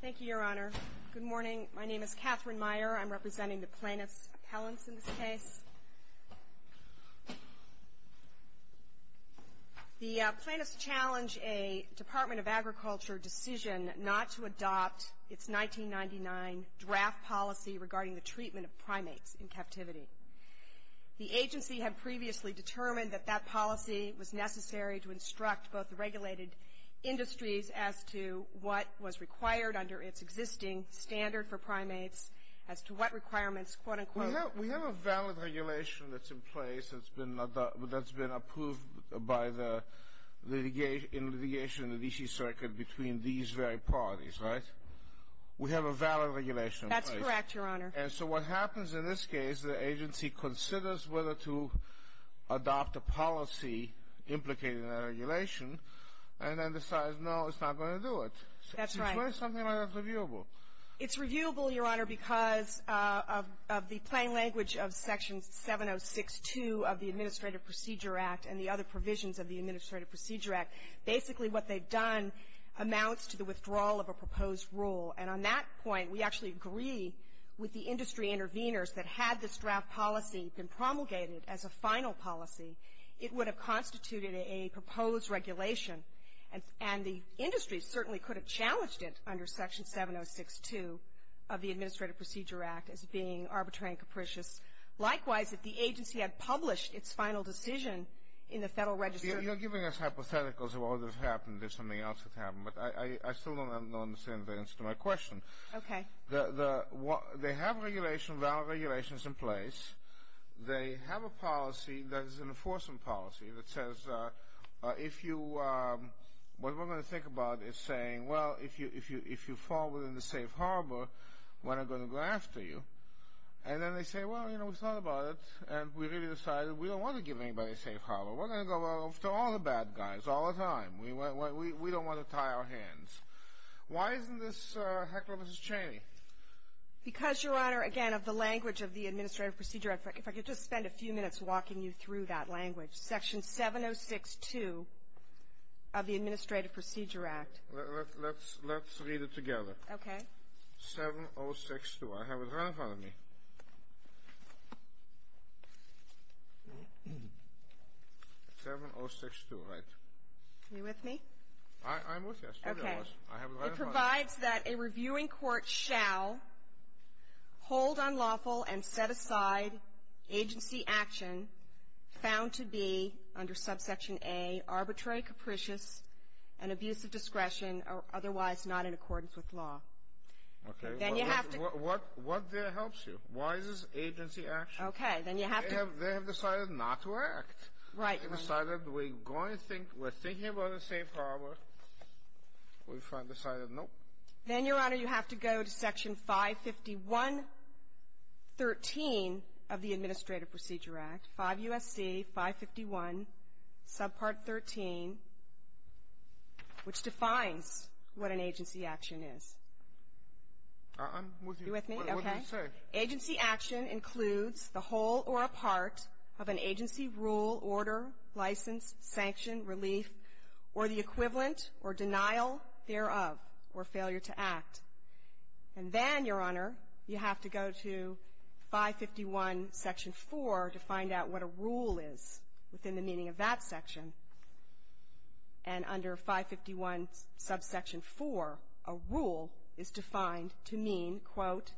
Thank you, Your Honor. Good morning. My name is Catherine Meyer. I'm representing the Plaintiffs' Appellants in this case. The Plaintiffs challenge a Department of Agriculture decision not to adopt its 1999 draft policy regarding the treatment of primates in captivity. The agency had previously determined that that policy was necessary to instruct both the regulated industries as to what was required under its existing standard for primates, as to what requirements, quote-unquote. We have a valid regulation that's in place that's been approved by the litigation in the D.C. Circuit between these very parties, right? We have a valid regulation in place. That's correct, Your Honor. And so what happens in this case, the agency considers whether to adopt a policy implicated in that regulation, and then decides, no, it's not going to do it. That's right. Why is something like that reviewable? It's reviewable, Your Honor, because of the plain language of Section 706-2 of the Administrative Procedure Act and the other provisions of the Administrative Procedure Act. Basically, what they've done amounts to the withdrawal of a proposed rule. And on that point, we actually agree with the industry interveners that had this draft policy been promulgated as a final policy, it would have constituted a proposed regulation. And the industry certainly could have challenged it under Section 706-2 of the Administrative Procedure Act as being arbitrary and capricious. Likewise, if the agency had published its final decision in the Federal Register You're giving us hypotheticals of what would have happened if something else had happened, but I still don't understand the answer to my question. Okay. They have regulations, valid regulations in place. They have a policy that is an enforcement policy that says, if you, what we're going to think about is saying, well, if you fall within the safe harbor, we're not going to go after you. And then they say, well, you know, we thought about it, and we really decided we don't want to give anybody a safe harbor. We're going to go after all the bad guys, all the time. We don't want to tie our hands. Why isn't this a heck of a misdemeanor? Because, Your Honor, again, of the language of the Administrative Procedure Act. If I could just spend a few minutes walking you through that language. Section 706-2 of the Administrative Procedure Act. Let's read it together. Okay. 706-2. I have it right in front of me. 706-2, right. Are you with me? I'm with you. Okay. I have it right in front of me. It provides that a reviewing court shall hold unlawful and set aside agency action found to be, under subsection A, arbitrary, capricious, and abuse of discretion otherwise not in accordance with law. Okay. Then you have to — What there helps you? Why is this agency action? Okay. Then you have to — They have decided not to act. Right. They decided we're going to think — we're thinking about a safe harbor. We finally decided, nope. Then, Your Honor, you have to go to Section 551.13 of the Administrative Procedure Act, 5 U.S.C. 551, subpart 13, which defines what an agency action is. I'm with you. Are you with me? Okay. What does it say? Agency action includes the whole or a part of an agency rule, order, license, sanction, relief, or the equivalent or denial thereof, or failure to act. And then, Your Honor, you have to go to 551, Section 4, to find out what a rule is within the meaning of that section. And under 551, subsection 4, a rule is defined to mean, quote,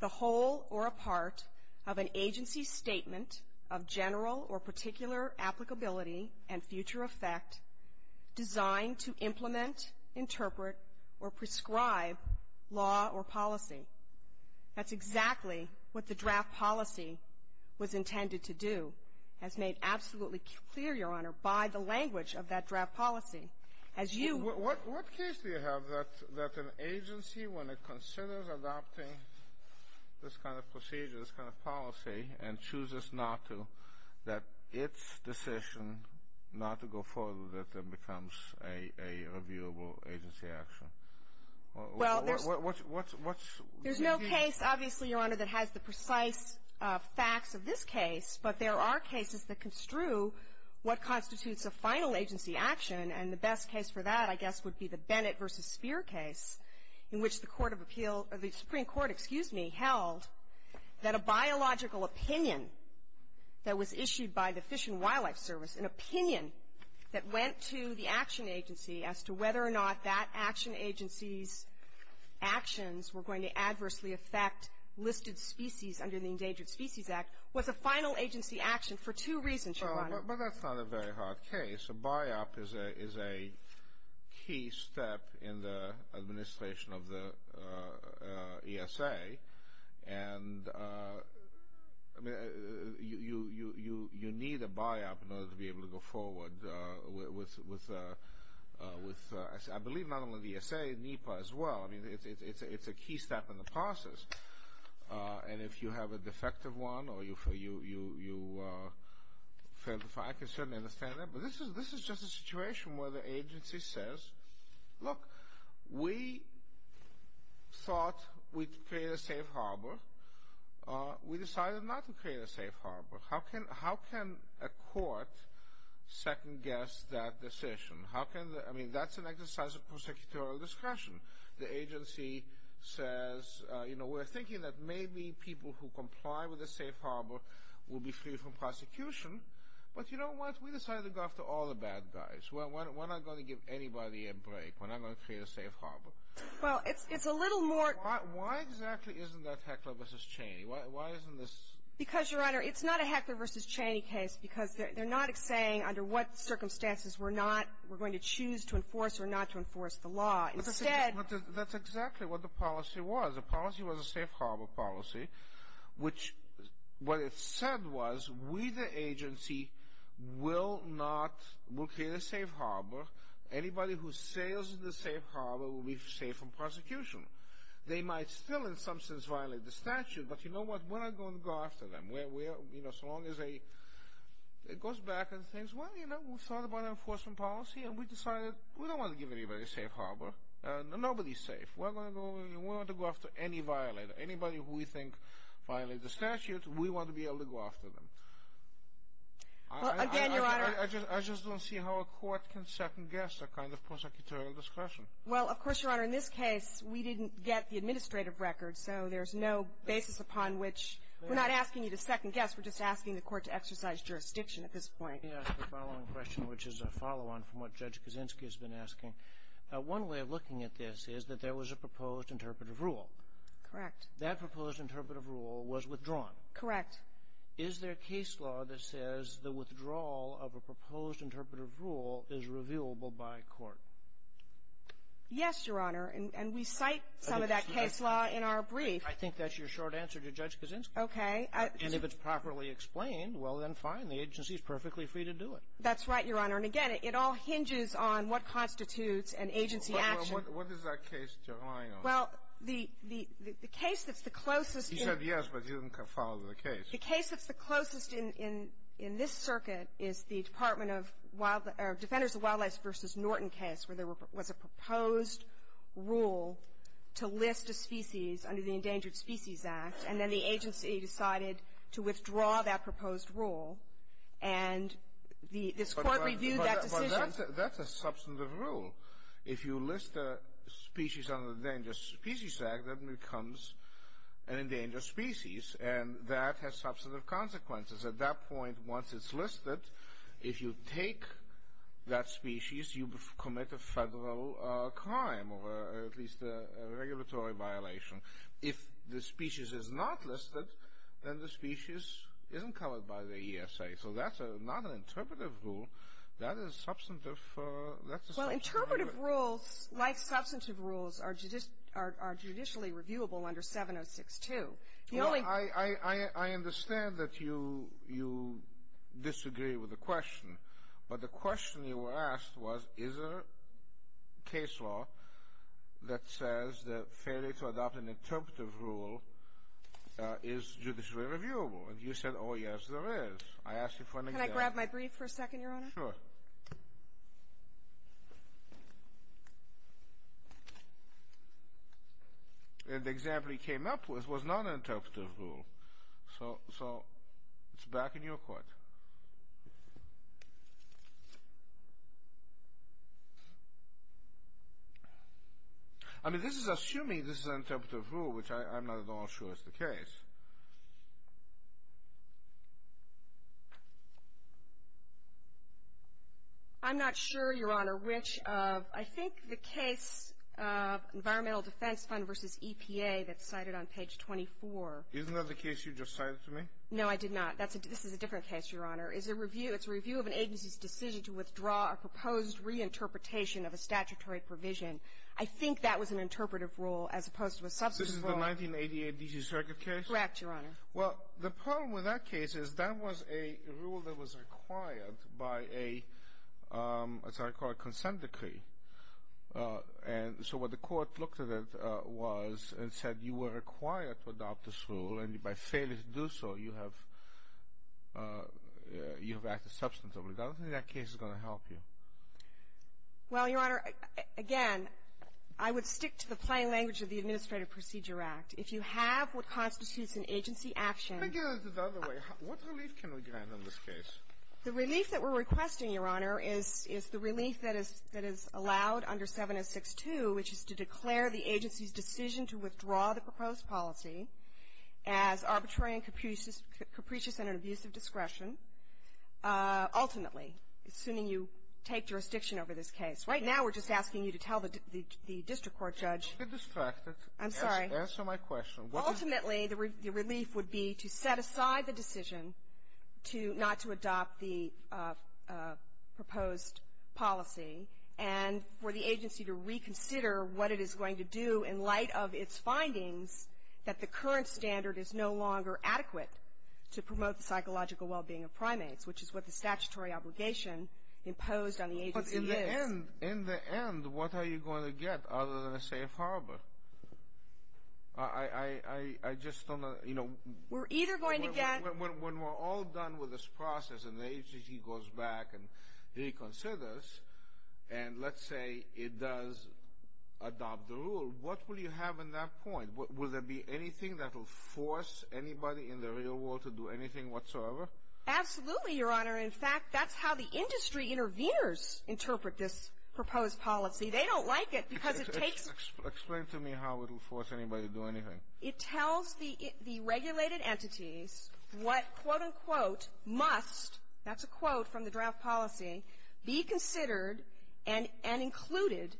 the whole or a part of an agency statement of general or particular law or policy. That's exactly what the draft policy was intended to do, as made absolutely clear, Your Honor, by the language of that draft policy. As you — What case do you have that an agency, when it considers adopting this kind of procedure, this kind of policy, and chooses not to, that its decision not to go forward with it becomes a reviewable agency action? Well, there's — What's — There's no case, obviously, Your Honor, that has the precise facts of this case, but there are cases that construe what constitutes a final agency action. And the best case for that, I guess, would be the Bennett v. Speer case, in which the court of appeal — the Supreme Court, excuse me, held that a biological opinion that was issued by the Fish and Wildlife Service, an opinion that went to the action agency's actions were going to adversely affect listed species under the Endangered Species Act, was a final agency action for two reasons, Your Honor. But that's not a very hard case. A buy-up is a key step in the administration of the ESA. And, I mean, you need a buy-up in order to be able to go forward with — I believe not only the ESA, NEPA as well. I mean, it's a key step in the process. And if you have a defective one or you fail to find — I can certainly understand that. But this is just a situation where the agency says, look, we thought we'd create a safe harbor. We decided not to create a safe harbor. How can a court second-guess that decision? How can — I mean, that's an exercise of prosecutorial discretion. The agency says, you know, we're thinking that maybe people who comply with a safe harbor will be free from prosecution. But you know what? We decided to go after all the bad guys. We're not going to give anybody a break. We're not going to create a safe harbor. Well, it's a little more — Why exactly isn't that Heckler v. Cheney? Why isn't this — Because, Your Honor, it's not a Heckler v. Cheney case because they're not saying under what circumstances we're not — we're going to choose to enforce or not to enforce the law. Instead — But that's exactly what the policy was. The policy was a safe harbor policy, which what it said was we, the agency, will not — will create a safe harbor. Anybody who sails in the safe harbor will be safe from prosecution. They might still, in some sense, violate the statute. But you know what? We're not going to go after them. We're — you know, so long as a — it goes back and says, well, you know, we thought about enforcement policy, and we decided we don't want to give anybody a safe harbor. Nobody's safe. We're not going to go — we're not going to go after any violator. Anybody who we think violated the statute, we want to be able to go after them. Well, again, Your Honor — I just don't see how a court can second-guess that kind of prosecutorial discretion. Well, of course, Your Honor, in this case, we didn't get the administrative record, so there's no basis upon which — we're not asking you to second-guess. We're just asking the court to exercise jurisdiction at this point. Let me ask the following question, which is a follow-on from what Judge Kaczynski has been asking. One way of looking at this is that there was a proposed interpretive rule. Correct. That proposed interpretive rule was withdrawn. Correct. Is there a case law that says the withdrawal of a proposed interpretive rule is revealable by court? Yes, Your Honor. And we cite some of that case law in our brief. I think that's your short answer to Judge Kaczynski. Okay. And if it's properly explained, well, then fine. The agency is perfectly free to do it. That's right, Your Honor. And, again, it all hinges on what constitutes an agency action. Well, what is that case you're relying on? Well, the case that's the closest in — He said yes, but he didn't follow the case. The case that's the closest in this circuit is the Department of — or Defenders of Wildlife v. Norton case, where there was a proposed rule to list a species under the Endangered Species Act, and then the agency decided to withdraw that proposed rule, and this Court reviewed that decision. But that's a substantive rule. If you list a species under the Endangered Species Act, that becomes an endangered species, and that has substantive consequences. At that point, once it's listed, if you take that species, you commit a federal crime, or at least a regulatory violation. If the species is not listed, then the species isn't covered by the ESA. So that's not an interpretive rule. That is substantive — Well, interpretive rules, like substantive rules, are judicially reviewable under 706-2. The only — I understand that you disagree with the question. But the question you were asked was, is there a case law that says that failure to adopt an interpretive rule is judicially reviewable? And you said, oh, yes, there is. I asked you for an example. Can I grab my brief for a second, Your Honor? Sure. And the example you came up with was not an interpretive rule. So it's back in your court. I mean, this is assuming this is an interpretive rule, which I'm not at all sure is the case. I'm not sure, Your Honor, which of — I think the case of Environmental Defense Fund v. EPA that's cited on page 24 — Isn't that the case you just cited to me? No, I did not. This is a different case, Your Honor. It's a review of an agency's decision to withdraw a proposed reinterpretation of a statutory provision. I think that was an interpretive rule as opposed to a substantive rule. This is the 1988 D.C. Circuit case? Correct, Your Honor. Well, the problem with that case is that was a rule that was required by a, as I call it, consent decree. And so what the court looked at it was and said you were required to adopt this rule, and by failing to do so, you have acted substantively. I don't think that case is going to help you. Well, Your Honor, again, I would stick to the plain language of the Administrative Procedure Act. If you have what constitutes an agency action — Let me get it the other way. What relief can we grant on this case? The relief that we're requesting, Your Honor, is the relief that is allowed under which is to declare the agency's decision to withdraw the proposed policy as arbitrary and capricious and an abuse of discretion, ultimately, assuming you take jurisdiction over this case. Right now, we're just asking you to tell the district court judge — Don't get distracted. I'm sorry. Answer my question. Ultimately, the relief would be to set aside the decision to not to adopt the proposed policy and for the agency to reconsider what it is going to do in light of its findings that the current standard is no longer adequate to promote the psychological well-being of primates, which is what the statutory obligation imposed on the agency is. But in the end, what are you going to get other than a safe harbor? I just don't know. We're either going to get — When we're all done with this process and the agency goes back and reconsiders and let's say it does adopt the rule, what will you have in that point? Will there be anything that will force anybody in the real world to do anything whatsoever? Absolutely, Your Honor. In fact, that's how the industry interveners interpret this proposed policy. They don't like it because it takes — Explain to me how it will force anybody to do anything. It tells the regulated entities what, quote-unquote, must — that's a quote from the draft policy — be considered and included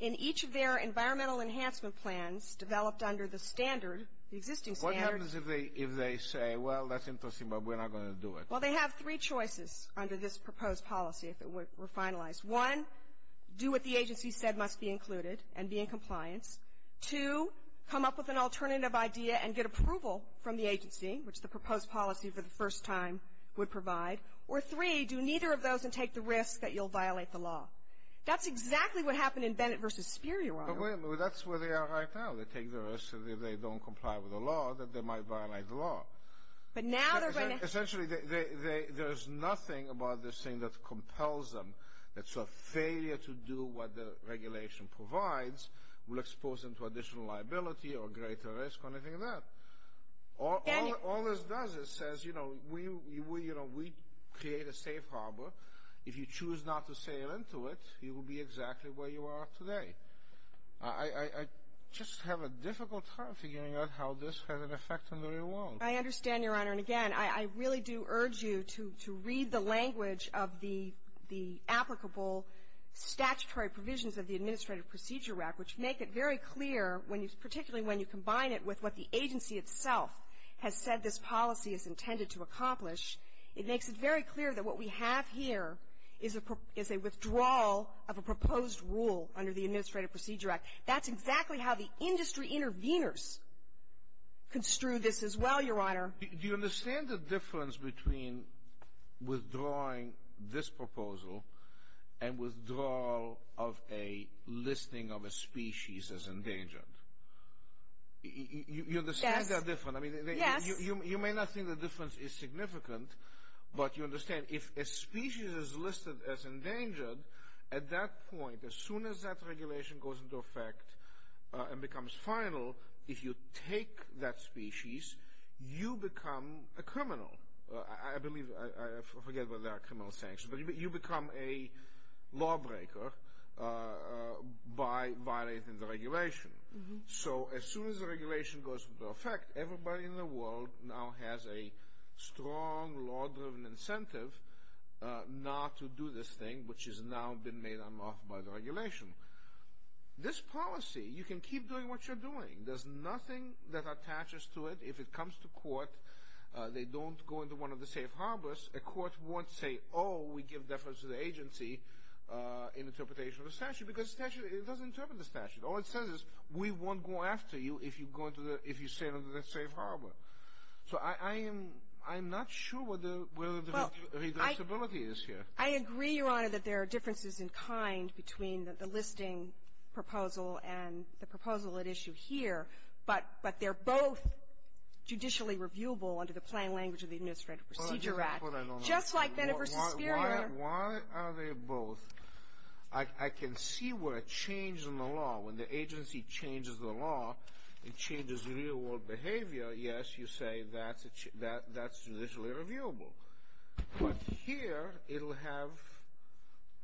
in each of their environmental enhancement plans developed under the standard, the existing standard. What happens if they say, well, that's interesting, but we're not going to do it? Well, they have three choices under this proposed policy, if it were finalized. One, do what the agency said must be included and be in compliance. Two, come up with an alternative idea and get approval from the agency, which the proposed policy for the first time would provide. Or three, do neither of those and take the risk that you'll violate the law. That's exactly what happened in Bennett v. Speer, Your Honor. But wait a minute. That's where they are right now. They take the risk that if they don't comply with the law, that they might violate the law. But now they're going to — Essentially, there is nothing about this thing that compels them. It's a failure to do what the regulation provides will expose them to additional liability or greater risk or anything like that. All this does is says, you know, we create a safe harbor. If you choose not to sail into it, you will be exactly where you are today. I just have a difficult time figuring out how this has an effect on the real world. I understand, Your Honor. And, again, I really do urge you to read the language of the applicable statutory provisions of the Administrative Procedure Act, which make it very clear, particularly when you combine it with what the agency itself has said this policy is intended to accomplish, it makes it very clear that what we have here is a withdrawal of a proposed rule under the Administrative Procedure Act. That's exactly how the industry interveners construed this as well, Your Honor. Do you understand the difference between withdrawing this proposal and withdrawal of a listing of a species as endangered? You understand that difference? Yes. You may not think the difference is significant, but you understand if a species is listed as endangered, at that point, as soon as that regulation goes into effect and becomes final, if you take that species, you become a criminal. I believe, I forget whether there are criminal sanctions, but you become a lawbreaker by violating the regulation. So as soon as the regulation goes into effect, everybody in the world now has a strong law-driven incentive not to do this thing, which has now been made unlawful by the regulation. This policy, you can keep doing what you're doing. There's nothing that attaches to it. If it comes to court, they don't go into one of the safe harbors. A court won't say, oh, we give deference to the agency in interpretation of the statute, because it doesn't interpret the statute. All it says is we won't go after you if you stay under the safe harbor. So I am not sure where the redressability is here. I agree, Your Honor, that there are differences in kind between the listing proposal and the proposal at issue here, but they're both judicially reviewable under the plain language of the Administrative Procedure Act. Just like Bennet v. Speer. Why are they both? I can see where a change in the law, when the agency changes the law, it changes real-world behavior, yes, you say that's judicially reviewable. But here, it will have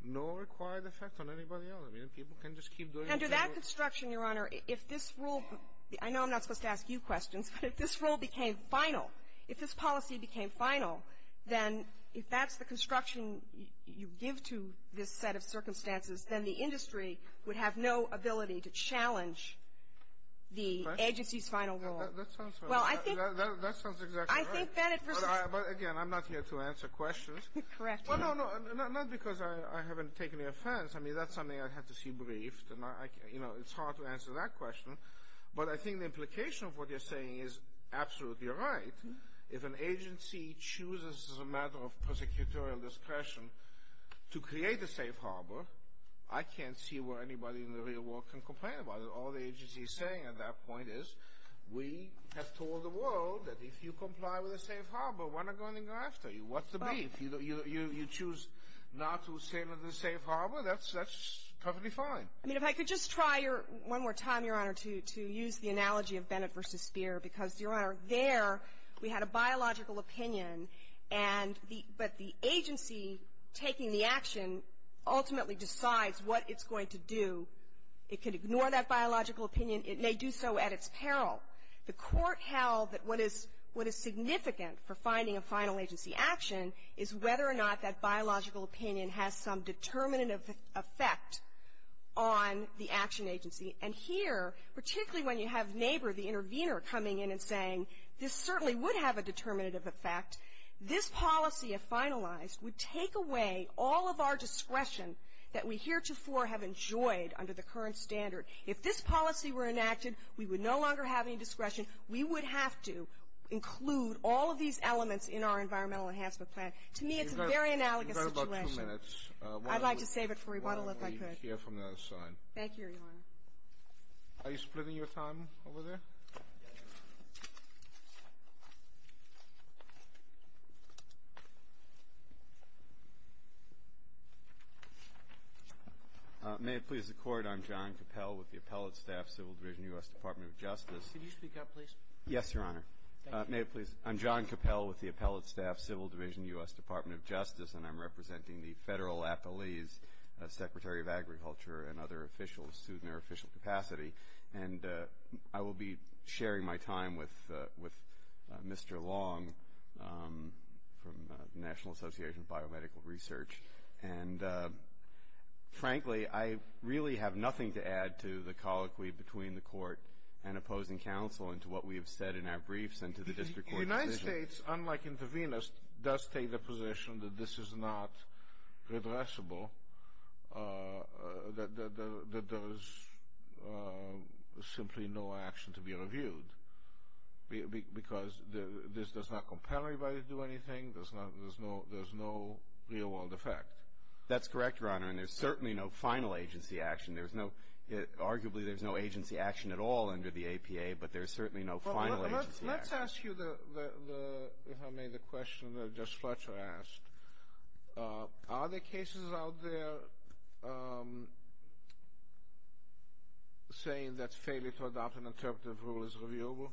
no required effect on anybody else. I mean, people can just keep doing what they're doing. Under that construction, Your Honor, if this rule — I know I'm not supposed to ask you questions, but if this rule became final, if this policy became final, then if that's the construction you give to this set of circumstances, then the industry would have no ability to challenge the agency's final rule. That sounds fair. Well, I think — That sounds exactly right. I think Bennet v. Speer — But again, I'm not here to answer questions. Correct. Well, no, no, not because I haven't taken the offense. I mean, that's something I had to see briefed, and it's hard to answer that question. But I think the implication of what you're saying is absolutely right. If an agency chooses as a matter of prosecutorial discretion to create a safe harbor, I can't see where anybody in the real world can complain about it. All the agency is saying at that point is, we have told the world that if you comply with a safe harbor, we're not going to go after you. What's the beef? You choose not to stay under the safe harbor? That's perfectly fine. I mean, if I could just try your — one more time, Your Honor, to use the analogy of Bennet v. Speer, because, Your Honor, there we had a biological opinion, and the — but the agency taking the action ultimately decides what it's going to do. It could ignore that biological opinion. It may do so at its peril. The Court held that what is significant for finding a final agency action is whether or not that biological opinion has some determinative effect on the action agency. And here, particularly when you have Nabor, the intervener, coming in and saying, this certainly would have a determinative effect, this policy, if finalized, would take away all of our discretion that we heretofore have enjoyed under the current standard. If this policy were enacted, we would no longer have any discretion. We would have to include all of these elements in our environmental enhancement plan. To me, it's a very analogous situation. You've got about two minutes. I'd like to save it for rebuttal, if I could. Thank you, Your Honor. Are you splitting your time over there? May it please the Court, I'm John Cappell with the Appellate Staff Civil Division, U.S. Department of Justice. Can you speak up, please? Yes, Your Honor. May it please? I'm John Cappell with the Appellate Staff Civil Division, U.S. Department of Justice, and I'm representing the federal appellees, Secretary of Agriculture and other officials who are in their official capacity. And I will be sharing my time with Mr. Long from the National Association of Biomedical Research. And frankly, I really have nothing to add to the colloquy between the Court and opposing counsel and to what we have said in our briefs and to the district court decision. the position that this is not redressable, that there is simply no action to be reviewed because this does not compel anybody to do anything, there's no real-world effect. That's correct, Your Honor, and there's certainly no final agency action. Arguably, there's no agency action at all under the APA, but there's certainly no final agency action. Let's ask you, if I may, the question that Judge Fletcher asked. Are there cases out there saying that failure to adopt an interpretive rule is reviewable?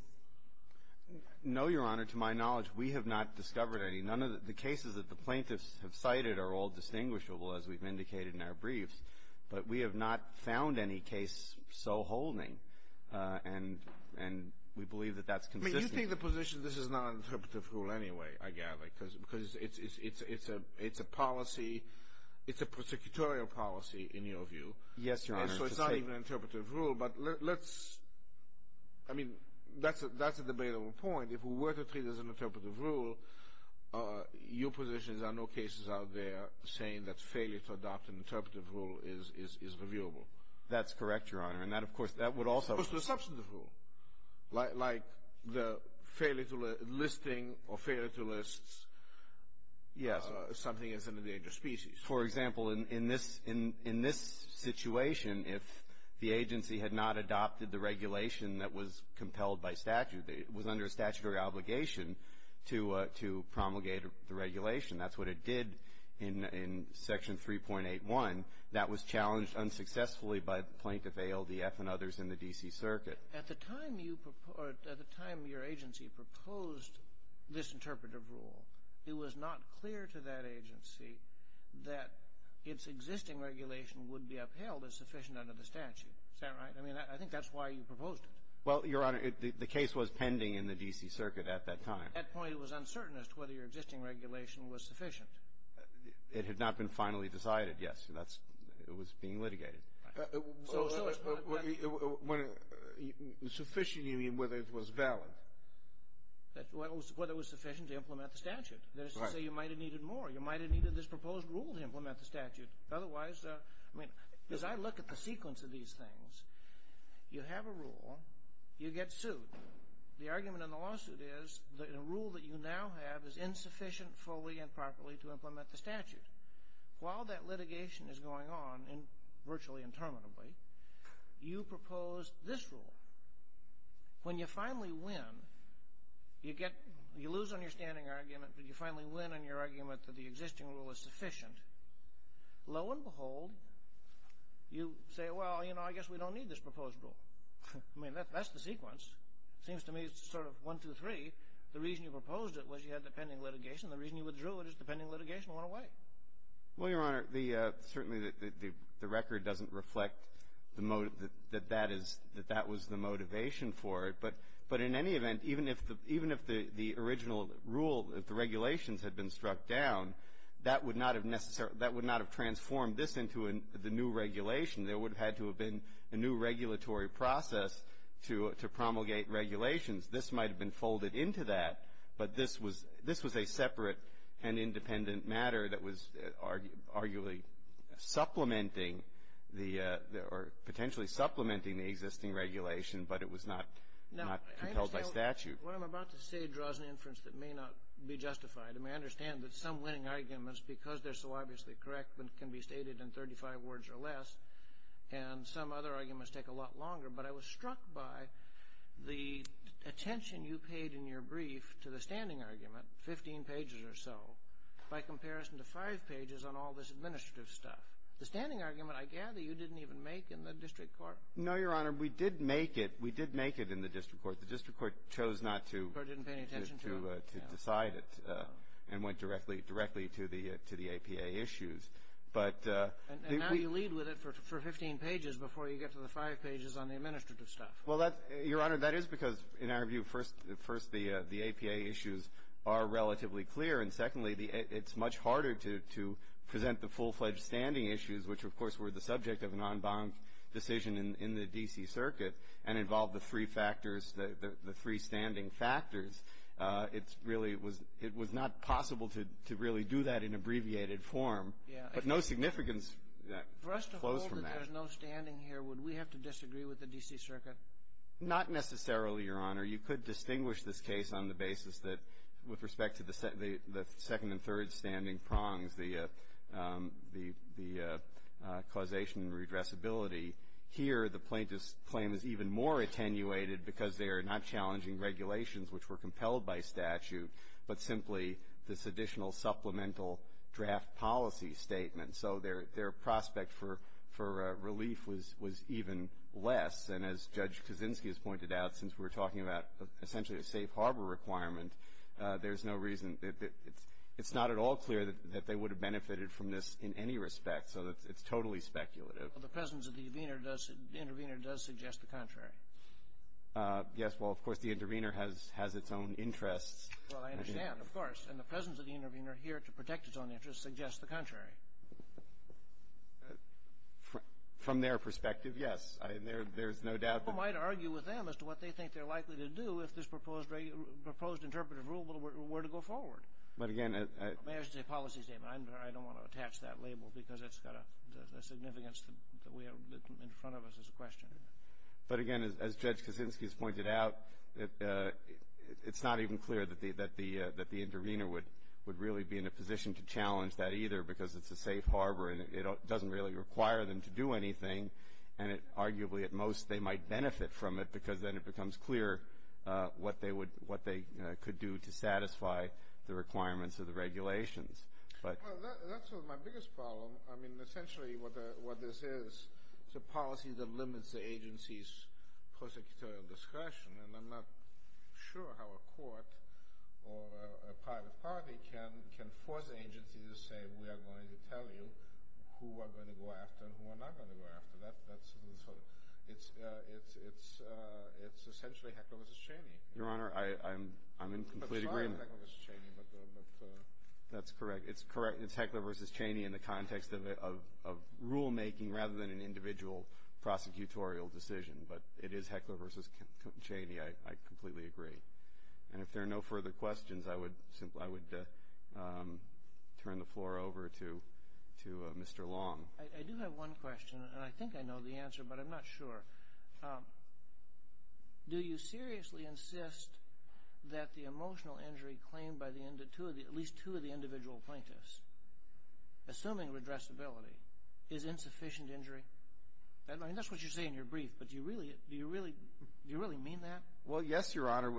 No, Your Honor. To my knowledge, we have not discovered any. None of the cases that the plaintiffs have cited are all distinguishable, as we've indicated in our briefs, but we have not found any case so holding. And we believe that that's consistent. I mean, you think the position that this is not an interpretive rule anyway, I gather, because it's a policy, it's a prosecutorial policy in your view. Yes, Your Honor. And so it's not even an interpretive rule, but let's, I mean, that's a debatable point. If we were to treat it as an interpretive rule, your position is there are no cases out there saying that failure to adopt an interpretive rule is reviewable. That's correct, Your Honor. And that, of course, that would also — It's a substantive rule, like the listing of failure to list something as an endangered species. For example, in this situation, if the agency had not adopted the regulation that was compelled by statute, it was under a statutory obligation to promulgate the regulation. That's what it did in Section 3.81. That was challenged unsuccessfully by Plaintiff ALDF and others in the D.C. Circuit. At the time you — at the time your agency proposed this interpretive rule, it was not clear to that agency that its existing regulation would be upheld as sufficient under the statute. Is that right? I mean, I think that's why you proposed it. Well, Your Honor, the case was pending in the D.C. Circuit at that time. At that point, it was uncertain as to whether your existing regulation was sufficient. It had not been finally decided, yes. So that's — it was being litigated. Right. So it's not — So sufficient, you mean, whether it was valid? Whether it was sufficient to implement the statute. Right. That is to say, you might have needed more. You might have needed this proposed rule to implement the statute. Otherwise, I mean, as I look at the sequence of these things, you have a rule, you get sued. The argument in the lawsuit is that a rule that you now have is insufficient fully and properly to implement the statute. While that litigation is going on virtually interminably, you propose this rule. When you finally win, you get — you lose on your standing argument, but you finally win on your argument that the existing rule is sufficient. Lo and behold, you say, well, you know, I guess we don't need this proposed rule. I mean, that's the sequence. It seems to me it's sort of one, two, three. The reason you proposed it was you had the pending litigation. The reason you withdrew it is the pending litigation went away. Well, Your Honor, certainly the record doesn't reflect that that was the motivation for it. But in any event, even if the original rule, if the regulations had been struck down, that would not have transformed this into the new regulation. There would have had to have been a new regulatory process to promulgate regulations. This might have been folded into that, but this was a separate and independent matter that was arguably supplementing the — or potentially supplementing the existing regulation, but it was not compelled by statute. What I'm about to say draws an inference that may not be justified. I mean, I understand that some winning arguments, because they're so obviously correct, can be stated in 35 words or less, and some other arguments take a lot longer. But I was struck by the attention you paid in your brief to the standing argument, 15 pages or so, by comparison to five pages on all this administrative stuff. The standing argument, I gather, you didn't even make in the district court. No, Your Honor. We did make it. We did make it in the district court. The district court chose not to — The court didn't pay any attention to it. — to decide it and went directly to the APA issues. And now you lead with it for 15 pages before you get to the five pages on the administrative stuff. Well, Your Honor, that is because, in our view, first, the APA issues are relatively clear, and secondly, it's much harder to present the full-fledged standing issues, which of course were the subject of an en banc decision in the D.C. Circuit and involved the three factors, the three standing factors. It really was — it was not possible to really do that in abbreviated form. But no significance flows from that. For us to hold that there's no standing here, would we have to disagree with the D.C. Circuit? Not necessarily, Your Honor. You could distinguish this case on the basis that, with respect to the second and third standing prongs, the causation and redressability. Here, the plaintiff's claim is even more attenuated because they are not challenging regulations which were compelled by statute, but simply this additional supplemental draft policy statement. So their prospect for relief was even less. And as Judge Kaczynski has pointed out, since we're talking about essentially a safe harbor requirement, there's no reason — it's not at all clear that they would have benefited from this in any respect. So it's totally speculative. Well, the presence of the intervener does suggest the contrary. Yes, well, of course, the intervener has its own interests. Well, I understand, of course. And the presence of the intervener here to protect its own interests suggests the contrary. From their perspective, yes. There's no doubt that — People might argue with them as to what they think they're likely to do if this proposed interpretive rule were to go forward. But again — May I just say policy statement. I don't want to attach that label because it's got a significance that we have in front of us as a question. But again, as Judge Kaczynski has pointed out, it's not even clear that the intervener would really be in a position to challenge that either because it's a safe harbor and it doesn't really require them to do anything. And arguably, at most, they might benefit from it because then it becomes clear what they could do to satisfy the requirements of the regulations. Well, that's sort of my biggest problem. I mean, essentially what this is, it's a policy that limits the agency's prosecutorial discretion. And I'm not sure how a court or a private party can force an agency to say, we are going to tell you who we're going to go after and who we're not going to go after. That's sort of — it's essentially Heckler v. Cheney. Your Honor, I'm in complete agreement. I'm sorry about Heckler v. Cheney, but — That's correct. It's correct. It's Heckler v. Cheney in the context of rulemaking rather than an individual prosecutorial decision. But it is Heckler v. Cheney. I completely agree. And if there are no further questions, I would turn the floor over to Mr. Long. I do have one question, and I think I know the answer, but I'm not sure. Do you seriously insist that the emotional injury claimed by at least two of the individual plaintiffs, assuming redressability, is insufficient injury? I mean, that's what you say in your brief, but do you really mean that? Well, yes, Your Honor.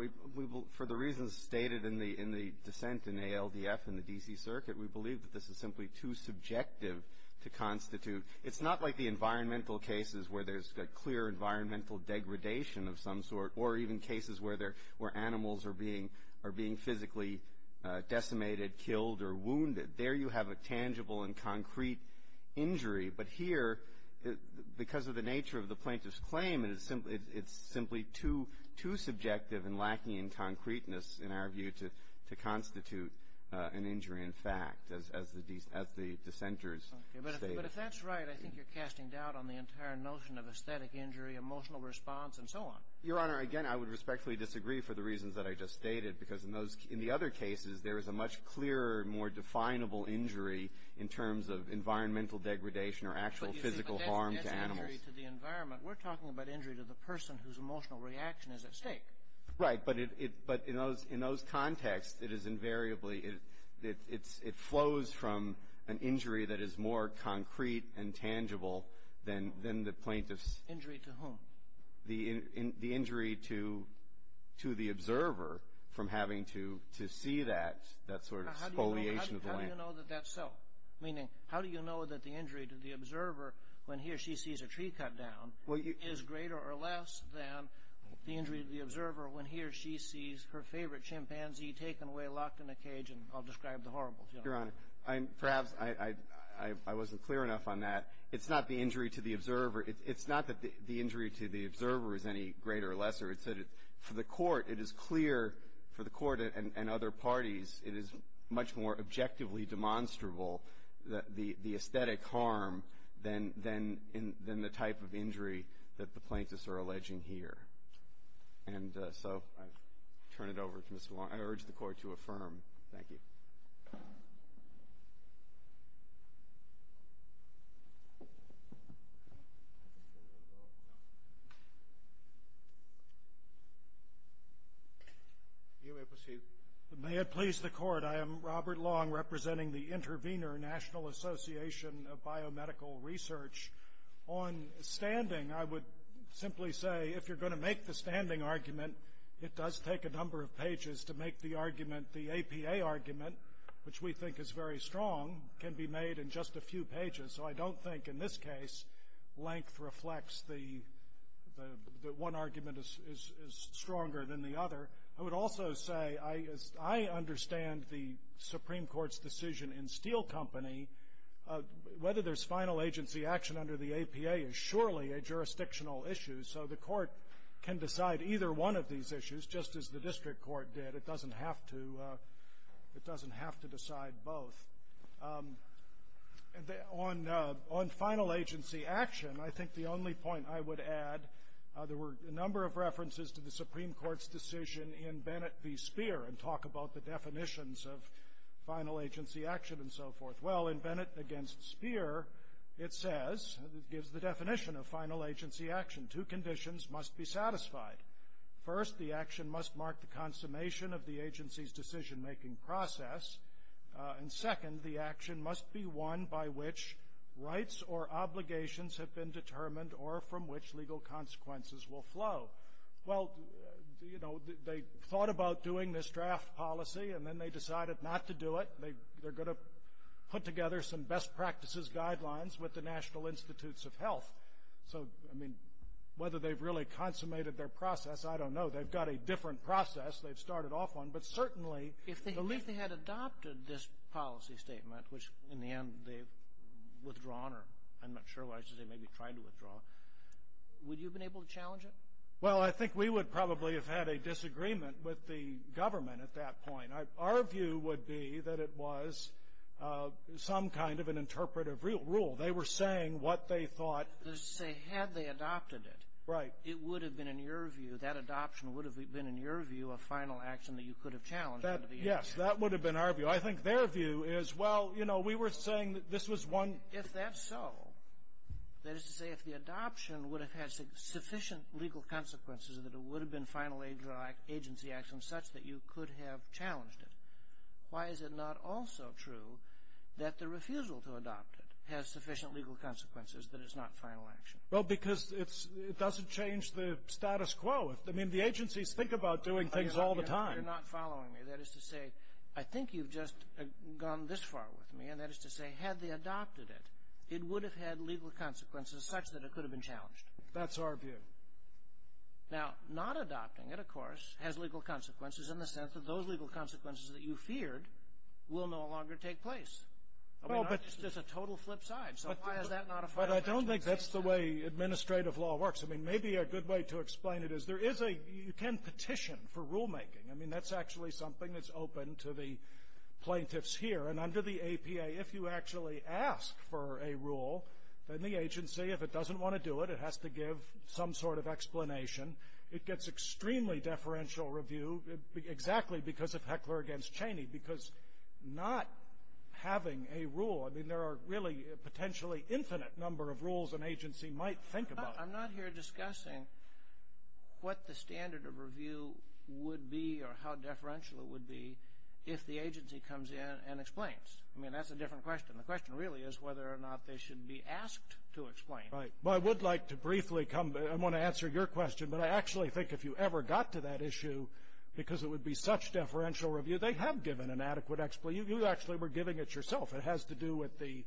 For the reasons stated in the dissent in ALDF and the D.C. Circuit, we believe that this is simply too subjective to constitute. It's not like the environmental cases where there's a clear environmental degradation of some sort or even cases where animals are being physically decimated, killed, or wounded. There you have a tangible and concrete injury. But here, because of the nature of the plaintiff's claim, it's simply too subjective and lacking in concreteness, in our view, to constitute an injury in fact, as the dissenters stated. But if that's right, I think you're casting doubt on the entire notion of aesthetic injury, emotional response, and so on. Your Honor, again, I would respectfully disagree for the reasons that I just stated, because in those – in the other cases, there is a much clearer, more definable injury in terms of environmental degradation or actual physical harm to animals. But that's injury to the environment. We're talking about injury to the person whose emotional reaction is at stake. Right. But in those contexts, it is invariably – it flows from an injury that is more concrete and tangible than the plaintiff's – Injury to whom? The injury to the observer from having to see that, that sort of spoliation of the land. How do you know that that's so? Meaning, how do you know that the injury to the observer when he or she sees a tree cut down is greater or less than the injury to the observer when he or she sees her favorite chimpanzee taken away, locked in a cage, and I'll describe the horribles. Your Honor, perhaps I wasn't clear enough on that. It's not the injury to the observer. It's not that the injury to the observer is any greater or lesser. It's that for the Court, it is clear, for the Court and other parties, it is much more objectively demonstrable the aesthetic harm than the type of injury that the plaintiffs are alleging here. And so I turn it over to Mr. Long. I urge the Court to affirm. Thank you. You may proceed. May it please the Court, I am Robert Long, representing the Intervenor National Association of Biomedical Research. On standing, I would simply say, if you're going to make the standing argument, it does take a number of pages to make the argument. The APA argument, which we think is very strong, can be made in just a few pages. So I don't think, in this case, length reflects that one argument is stronger than the other. I would also say, as I understand the Supreme Court's decision in Steele Company, whether there's final agency action under the APA is surely a jurisdictional issue. So the Court can decide either one of these issues, just as the district court did. It doesn't have to decide both. On final agency action, I think the only point I would add, there were a number of references to the Supreme Court's decision in Bennett v. Speer and talk about the definitions of final agency action and so forth. Well, in Bennett against Speer, it says, it gives the definition of final agency action. Two conditions must be satisfied. First, the action must mark the consummation of the agency's decision-making process. And second, the action must be one by which rights or obligations have been determined or from which legal consequences will flow. Well, you know, they thought about doing this draft policy, and then they decided not to do it. They're going to put together some best practices guidelines with the National Institutes of Health. So, I mean, whether they've really consummated their process, I don't know. They've got a different process. They've started off on. If they had adopted this policy statement, which in the end they've withdrawn, or I'm not sure why I should say maybe tried to withdraw, would you have been able to challenge it? Well, I think we would probably have had a disagreement with the government at that point. Our view would be that it was some kind of an interpretive rule. They were saying what they thought. Say had they adopted it. Right. It would have been, in your view, that adoption would have been, in your view, a final action that you could have challenged. Yes, that would have been our view. I think their view is, well, you know, we were saying that this was one. If that's so, that is to say if the adoption would have had sufficient legal consequences that it would have been final agency action such that you could have challenged it, why is it not also true that the refusal to adopt it has sufficient legal consequences that it's not final action? Well, because it doesn't change the status quo. I mean, the agencies think about doing things all the time. You're not following me. That is to say, I think you've just gone this far with me, and that is to say had they adopted it, it would have had legal consequences such that it could have been challenged. That's our view. Now, not adopting it, of course, has legal consequences in the sense that those legal consequences that you feared will no longer take place. I mean, it's just a total flip side, so why is that not a final action? But I don't think that's the way administrative law works. I mean, maybe a good way to explain it is there is a you can petition for rulemaking. I mean, that's actually something that's open to the plaintiffs here. And under the APA, if you actually ask for a rule, then the agency, if it doesn't want to do it, it has to give some sort of explanation. It gets extremely deferential review, exactly because of Heckler against Cheney, because not having a rule, I mean, there are really potentially infinite number of rules an agency might think about. I'm not here discussing what the standard of review would be or how deferential it would be if the agency comes in and explains. I mean, that's a different question. The question really is whether or not they should be asked to explain. Right. Well, I would like to briefly come, I want to answer your question, but I actually think if you ever got to that issue because it would be such deferential review, they have given an adequate explanation. You actually were giving it yourself. It has to do with the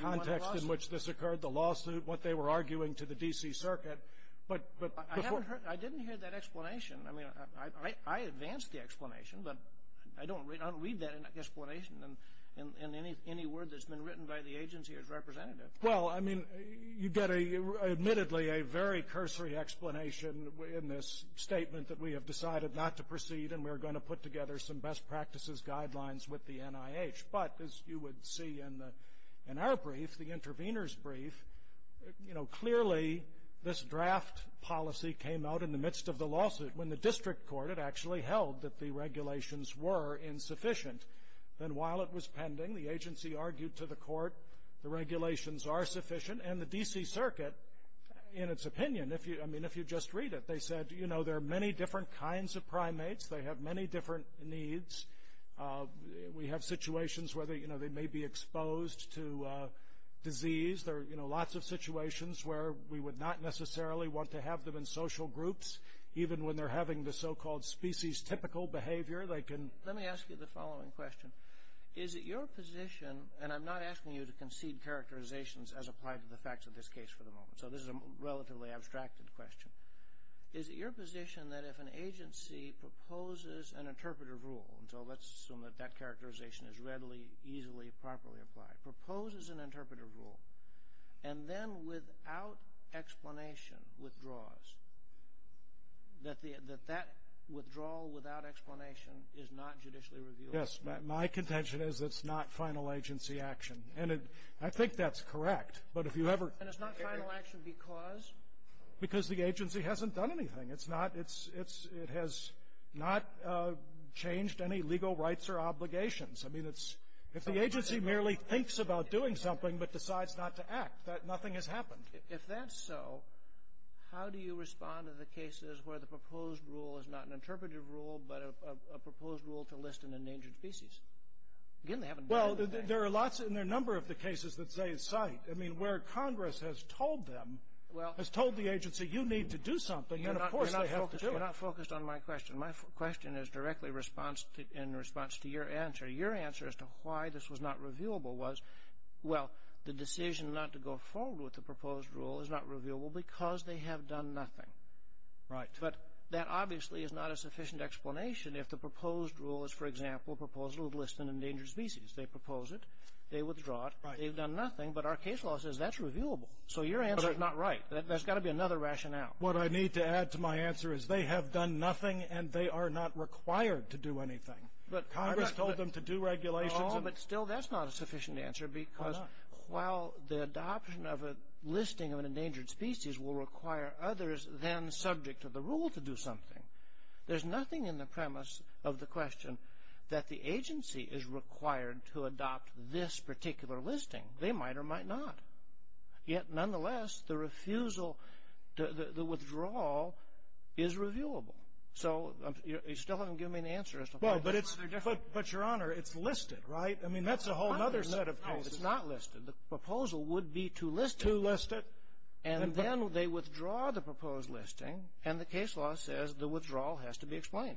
context in which this occurred, the lawsuit, what they were arguing to the D.C. Circuit. I didn't hear that explanation. I mean, I advance the explanation, but I don't read that explanation in any word that's been written by the agency as representative. Well, I mean, you get admittedly a very cursory explanation in this statement that we have decided not to proceed and we're going to put together some best practices guidelines with the NIH. But as you would see in our brief, the intervener's brief, you know, clearly this draft policy came out in the midst of the lawsuit when the district court had actually held that the regulations were insufficient. Then while it was pending, the agency argued to the court the regulations are sufficient, and the D.C. Circuit, in its opinion, I mean, if you just read it, they said, you know, there are many different kinds of primates. They have many different needs. We have situations where, you know, they may be exposed to disease. There are, you know, lots of situations where we would not necessarily want to have them in social groups, even when they're having the so-called species-typical behavior. Let me ask you the following question. Is it your position, and I'm not asking you to concede characterizations as applied to the facts of this case for the moment, so this is a relatively abstracted question. Is it your position that if an agency proposes an interpretive rule, and so let's assume that that characterization is readily, easily, properly applied, proposes an interpretive rule, and then without explanation withdraws, that that withdrawal without explanation is not judicially reviewable? Yes. My contention is it's not final agency action. And I think that's correct, but if you ever ---- And it's not final action because? Because the agency hasn't done anything. It's not ---- It has not changed any legal rights or obligations. I mean, it's ---- If the agency merely thinks about doing something but decides not to act, nothing has happened. If that's so, how do you respond to the cases where the proposed rule is not an interpretive rule but a proposed rule to list an endangered species? Again, they haven't done anything. Well, there are lots in a number of the cases that say it's site. I mean, where Congress has told them, has told the agency, you need to do something, and, of course, they have to do it. You're not focused on my question. My question is directly in response to your answer. Your answer as to why this was not reviewable was, well, the decision not to go forward with the proposed rule is not reviewable because they have done nothing. Right. But that obviously is not a sufficient explanation if the proposed rule is, for example, proposed to list an endangered species. They propose it. They withdraw it. Right. They've done nothing. But our case law says that's reviewable. So your answer is not right. There's got to be another rationale. What I need to add to my answer is they have done nothing, and they are not required to do anything. Congress told them to do regulations. But still, that's not a sufficient answer because while the adoption of a listing of an endangered species will require others then subject to the rule to do something, there's nothing in the premise of the question that the agency is required to adopt this particular listing. They might or might not. Yet, nonetheless, the refusal, the withdrawal is reviewable. So you still haven't given me an answer as to why. But, Your Honor, it's listed, right? I mean, that's a whole other set of cases. No, it's not listed. The proposal would be to list it. To list it. And then they withdraw the proposed listing, and the case law says the withdrawal has to be explained.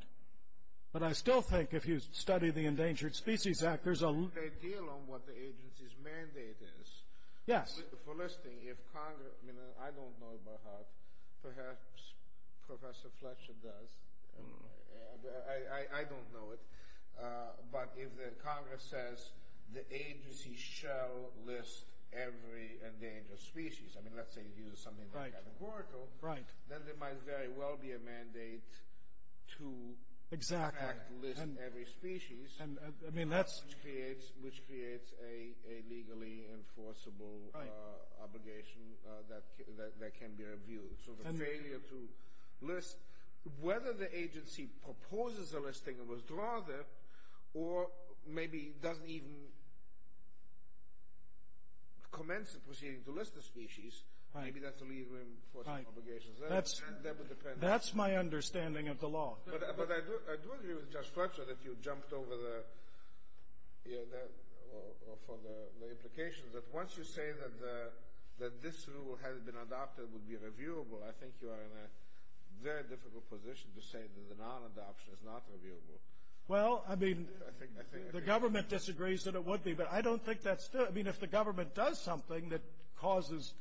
But I still think if you study the Endangered Species Act, there's a... They deal on what the agency's mandate is. Yes. For listing, if Congress, I mean, I don't know about HUD. Perhaps Professor Fletcher does. I don't know it. But if Congress says the agency shall list every endangered species, I mean, let's say you use something like that in Oracle, then there might very well be a mandate to in fact list every species, which creates a legally enforceable obligation that can be reviewed. It's sort of a failure to list. Whether the agency proposes a listing or withdraws it, or maybe doesn't even commence the proceeding to list the species, maybe that's a legally enforceable obligation. That would depend. That's my understanding of the law. But I do agree with Judge Fletcher that you jumped over the... for the implications, that once you say that this rule, had it been adopted, would be reviewable, I think you are in a very difficult position to say that the non-adoption is not reviewable. Well, I mean, the government disagrees that it would be. But I don't think that's... I mean, if the government does something that causes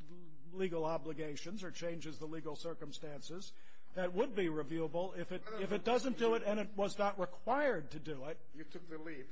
legal obligations or changes the legal circumstances, that would be reviewable. If it doesn't do it and it was not required to do it... You took the leap.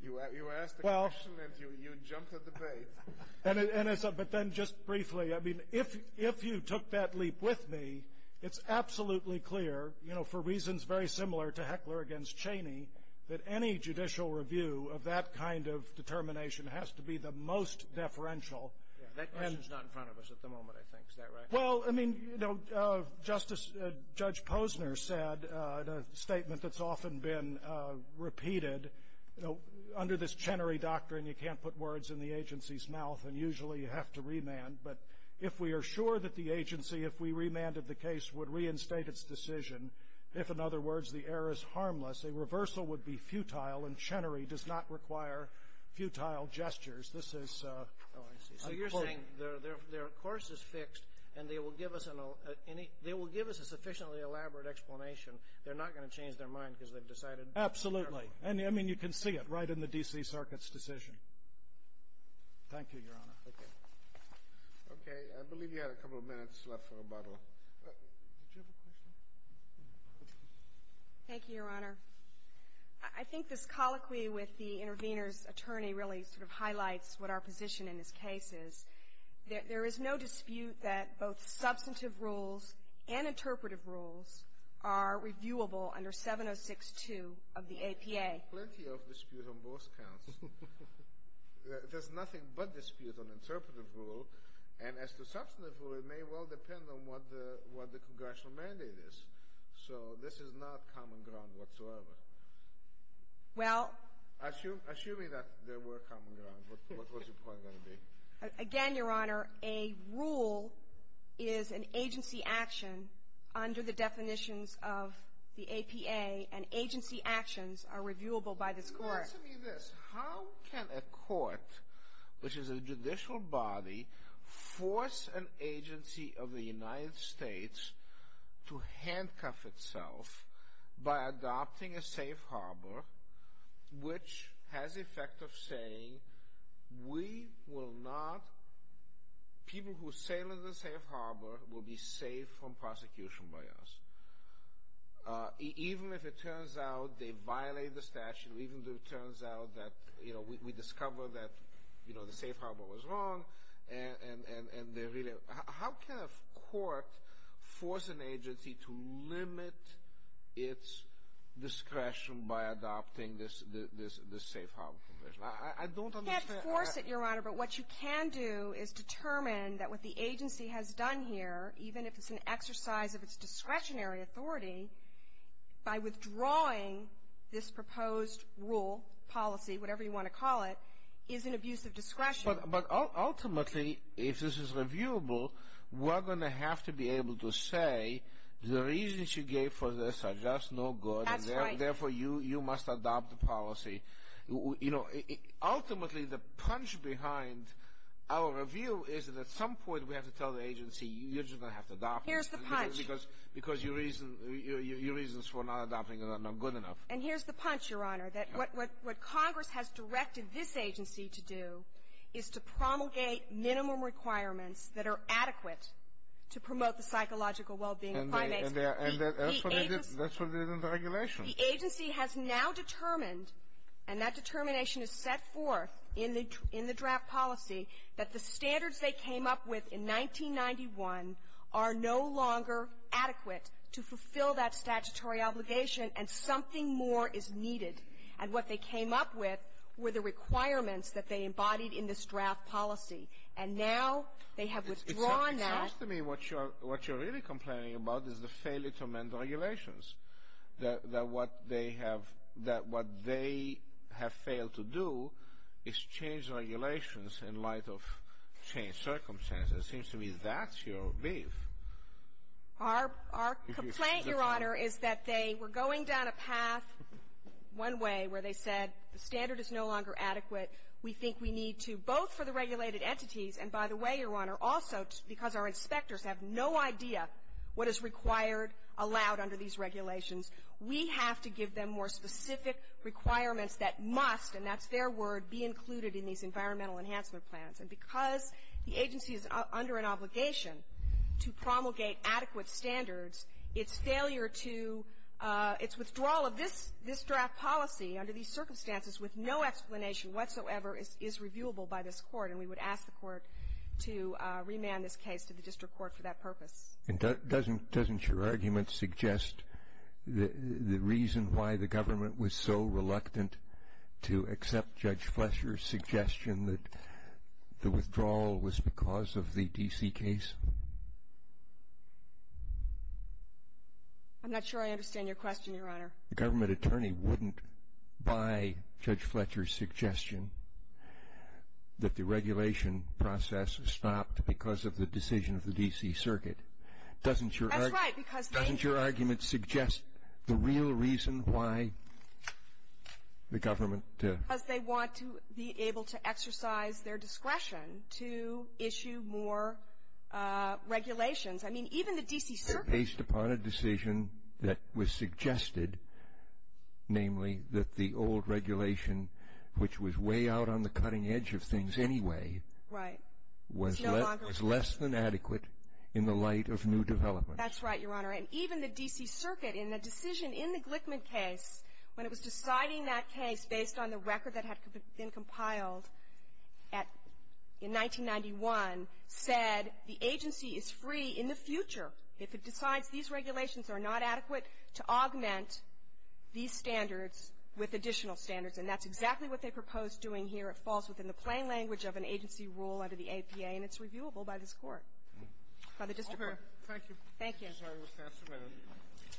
You asked the question and you jumped at the bait. But then just briefly, I mean, if you took that leap with me, it's absolutely clear, you know, for reasons very similar to Heckler against Cheney, that any judicial review of that kind of determination has to be the most deferential. That question is not in front of us at the moment, I think. Is that right? Well, I mean, you know, Justice — Judge Posner said in a statement that's often been repeated, you know, under this Chenery doctrine, you can't put words in the agency's mouth, and usually you have to remand. But if we are sure that the agency, if we remanded the case, would reinstate its decision, if, in other words, the error is harmless, a reversal would be futile, and Chenery does not require futile gestures. This is... Oh, I see. So you're saying their course is fixed and they will give us a sufficiently elaborate explanation. They're not going to change their mind because they've decided... Absolutely. I mean, you can see it right in the D.C. Circuit's decision. Thank you, Your Honor. Okay. Okay. I believe you had a couple of minutes left for rebuttal. Did you have a question? Thank you, Your Honor. I think this colloquy with the intervener's attorney really sort of highlights what our position in this case is. There is no dispute that both substantive rules and interpretive rules are reviewable under 706-2 of the APA. There's plenty of dispute on both counts. There's nothing but dispute on interpretive rule, and as to substantive rule, it may well depend on what the congressional mandate is. So this is not common ground whatsoever. Well... Assuming that there were common ground, what was your point going to be? Again, Your Honor, a rule is an agency action under the definitions of the APA, and agency actions are reviewable by this Court. Answer me this. How can a court, which is a judicial body, force an agency of the United States to handcuff itself by adopting a safe harbor, which has the effect of saying, we will not, people who sail in the safe harbor will be saved from prosecution by us. Even if it turns out they violate the statute, even if it turns out that, you know, we discover that, you know, the safe harbor was wrong, and they're really... How can a court force an agency to limit its discretion by adopting this safe harbor provision? I don't understand... You can't force it, Your Honor, but what you can do is determine that what the agency has done here, even if it's an exercise of its discretionary authority, by withdrawing this proposed rule, policy, whatever you want to call it, is an abuse of discretion. But ultimately, if this is reviewable, we're going to have to be able to say, the reasons you gave for this are just no good. That's right. Therefore, you must adopt the policy. Ultimately, the punch behind our review is that at some point we have to tell the agency, you're just going to have to adopt it. Here's the punch. Because your reasons for not adopting it are not good enough. And here's the punch, Your Honor, that what Congress has directed this agency to do is to promulgate minimum requirements that are adequate to promote the psychological well-being of primates. And that's what they did in the regulation. The agency has now determined, and that determination is set forth in the draft policy, that the standards they came up with in 1991 are no longer adequate to fulfill that statutory obligation, and something more is needed. And what they came up with were the requirements that they embodied in this draft policy. And now they have withdrawn that. It seems to me what you're really complaining about is the failure to amend the regulations. That what they have — that what they have failed to do is change regulations in light of changed circumstances. It seems to me that's your beef. Our — our complaint, Your Honor, is that they were going down a path one way where they said the standard is no longer adequate. We think we need to, both for the regulated entities and, by the way, Your Honor, also because our inspectors have no idea what is required, allowed under these regulations. We have to give them more specific requirements that must, and that's their word, be included in these environmental enhancement plans. And because the agency is under an obligation to promulgate adequate standards, its failure to — its withdrawal of this — this draft policy under these circumstances with no explanation whatsoever is — is reviewable by this Court. And we would ask the Court to remand this case to the district court for that purpose. And doesn't — doesn't your argument suggest the reason why the government was so reluctant to accept Judge Fletcher's suggestion that the withdrawal was because of the D.C. case? I'm not sure I understand your question, Your Honor. The government attorney wouldn't buy Judge Fletcher's suggestion that the regulation process stopped because of the decision of the D.C. Circuit. Doesn't your — That's right, because they — Doesn't your argument suggest the real reason why the government — Because they want to be able to exercise their discretion to issue more regulations. I mean, even the D.C. Circuit — namely, that the old regulation, which was way out on the cutting edge of things anyway, was less than adequate in the light of new developments. That's right, Your Honor. And even the D.C. Circuit, in a decision in the Glickman case, when it was deciding that case based on the record that had been compiled at — in 1991, said the agency is free in the future if it decides these regulations are not adequate to augment these standards with additional standards. And that's exactly what they propose doing here. It falls within the plain language of an agency rule under the APA, and it's reviewable by this Court, by the district court. All clear. Thank you. Thank you.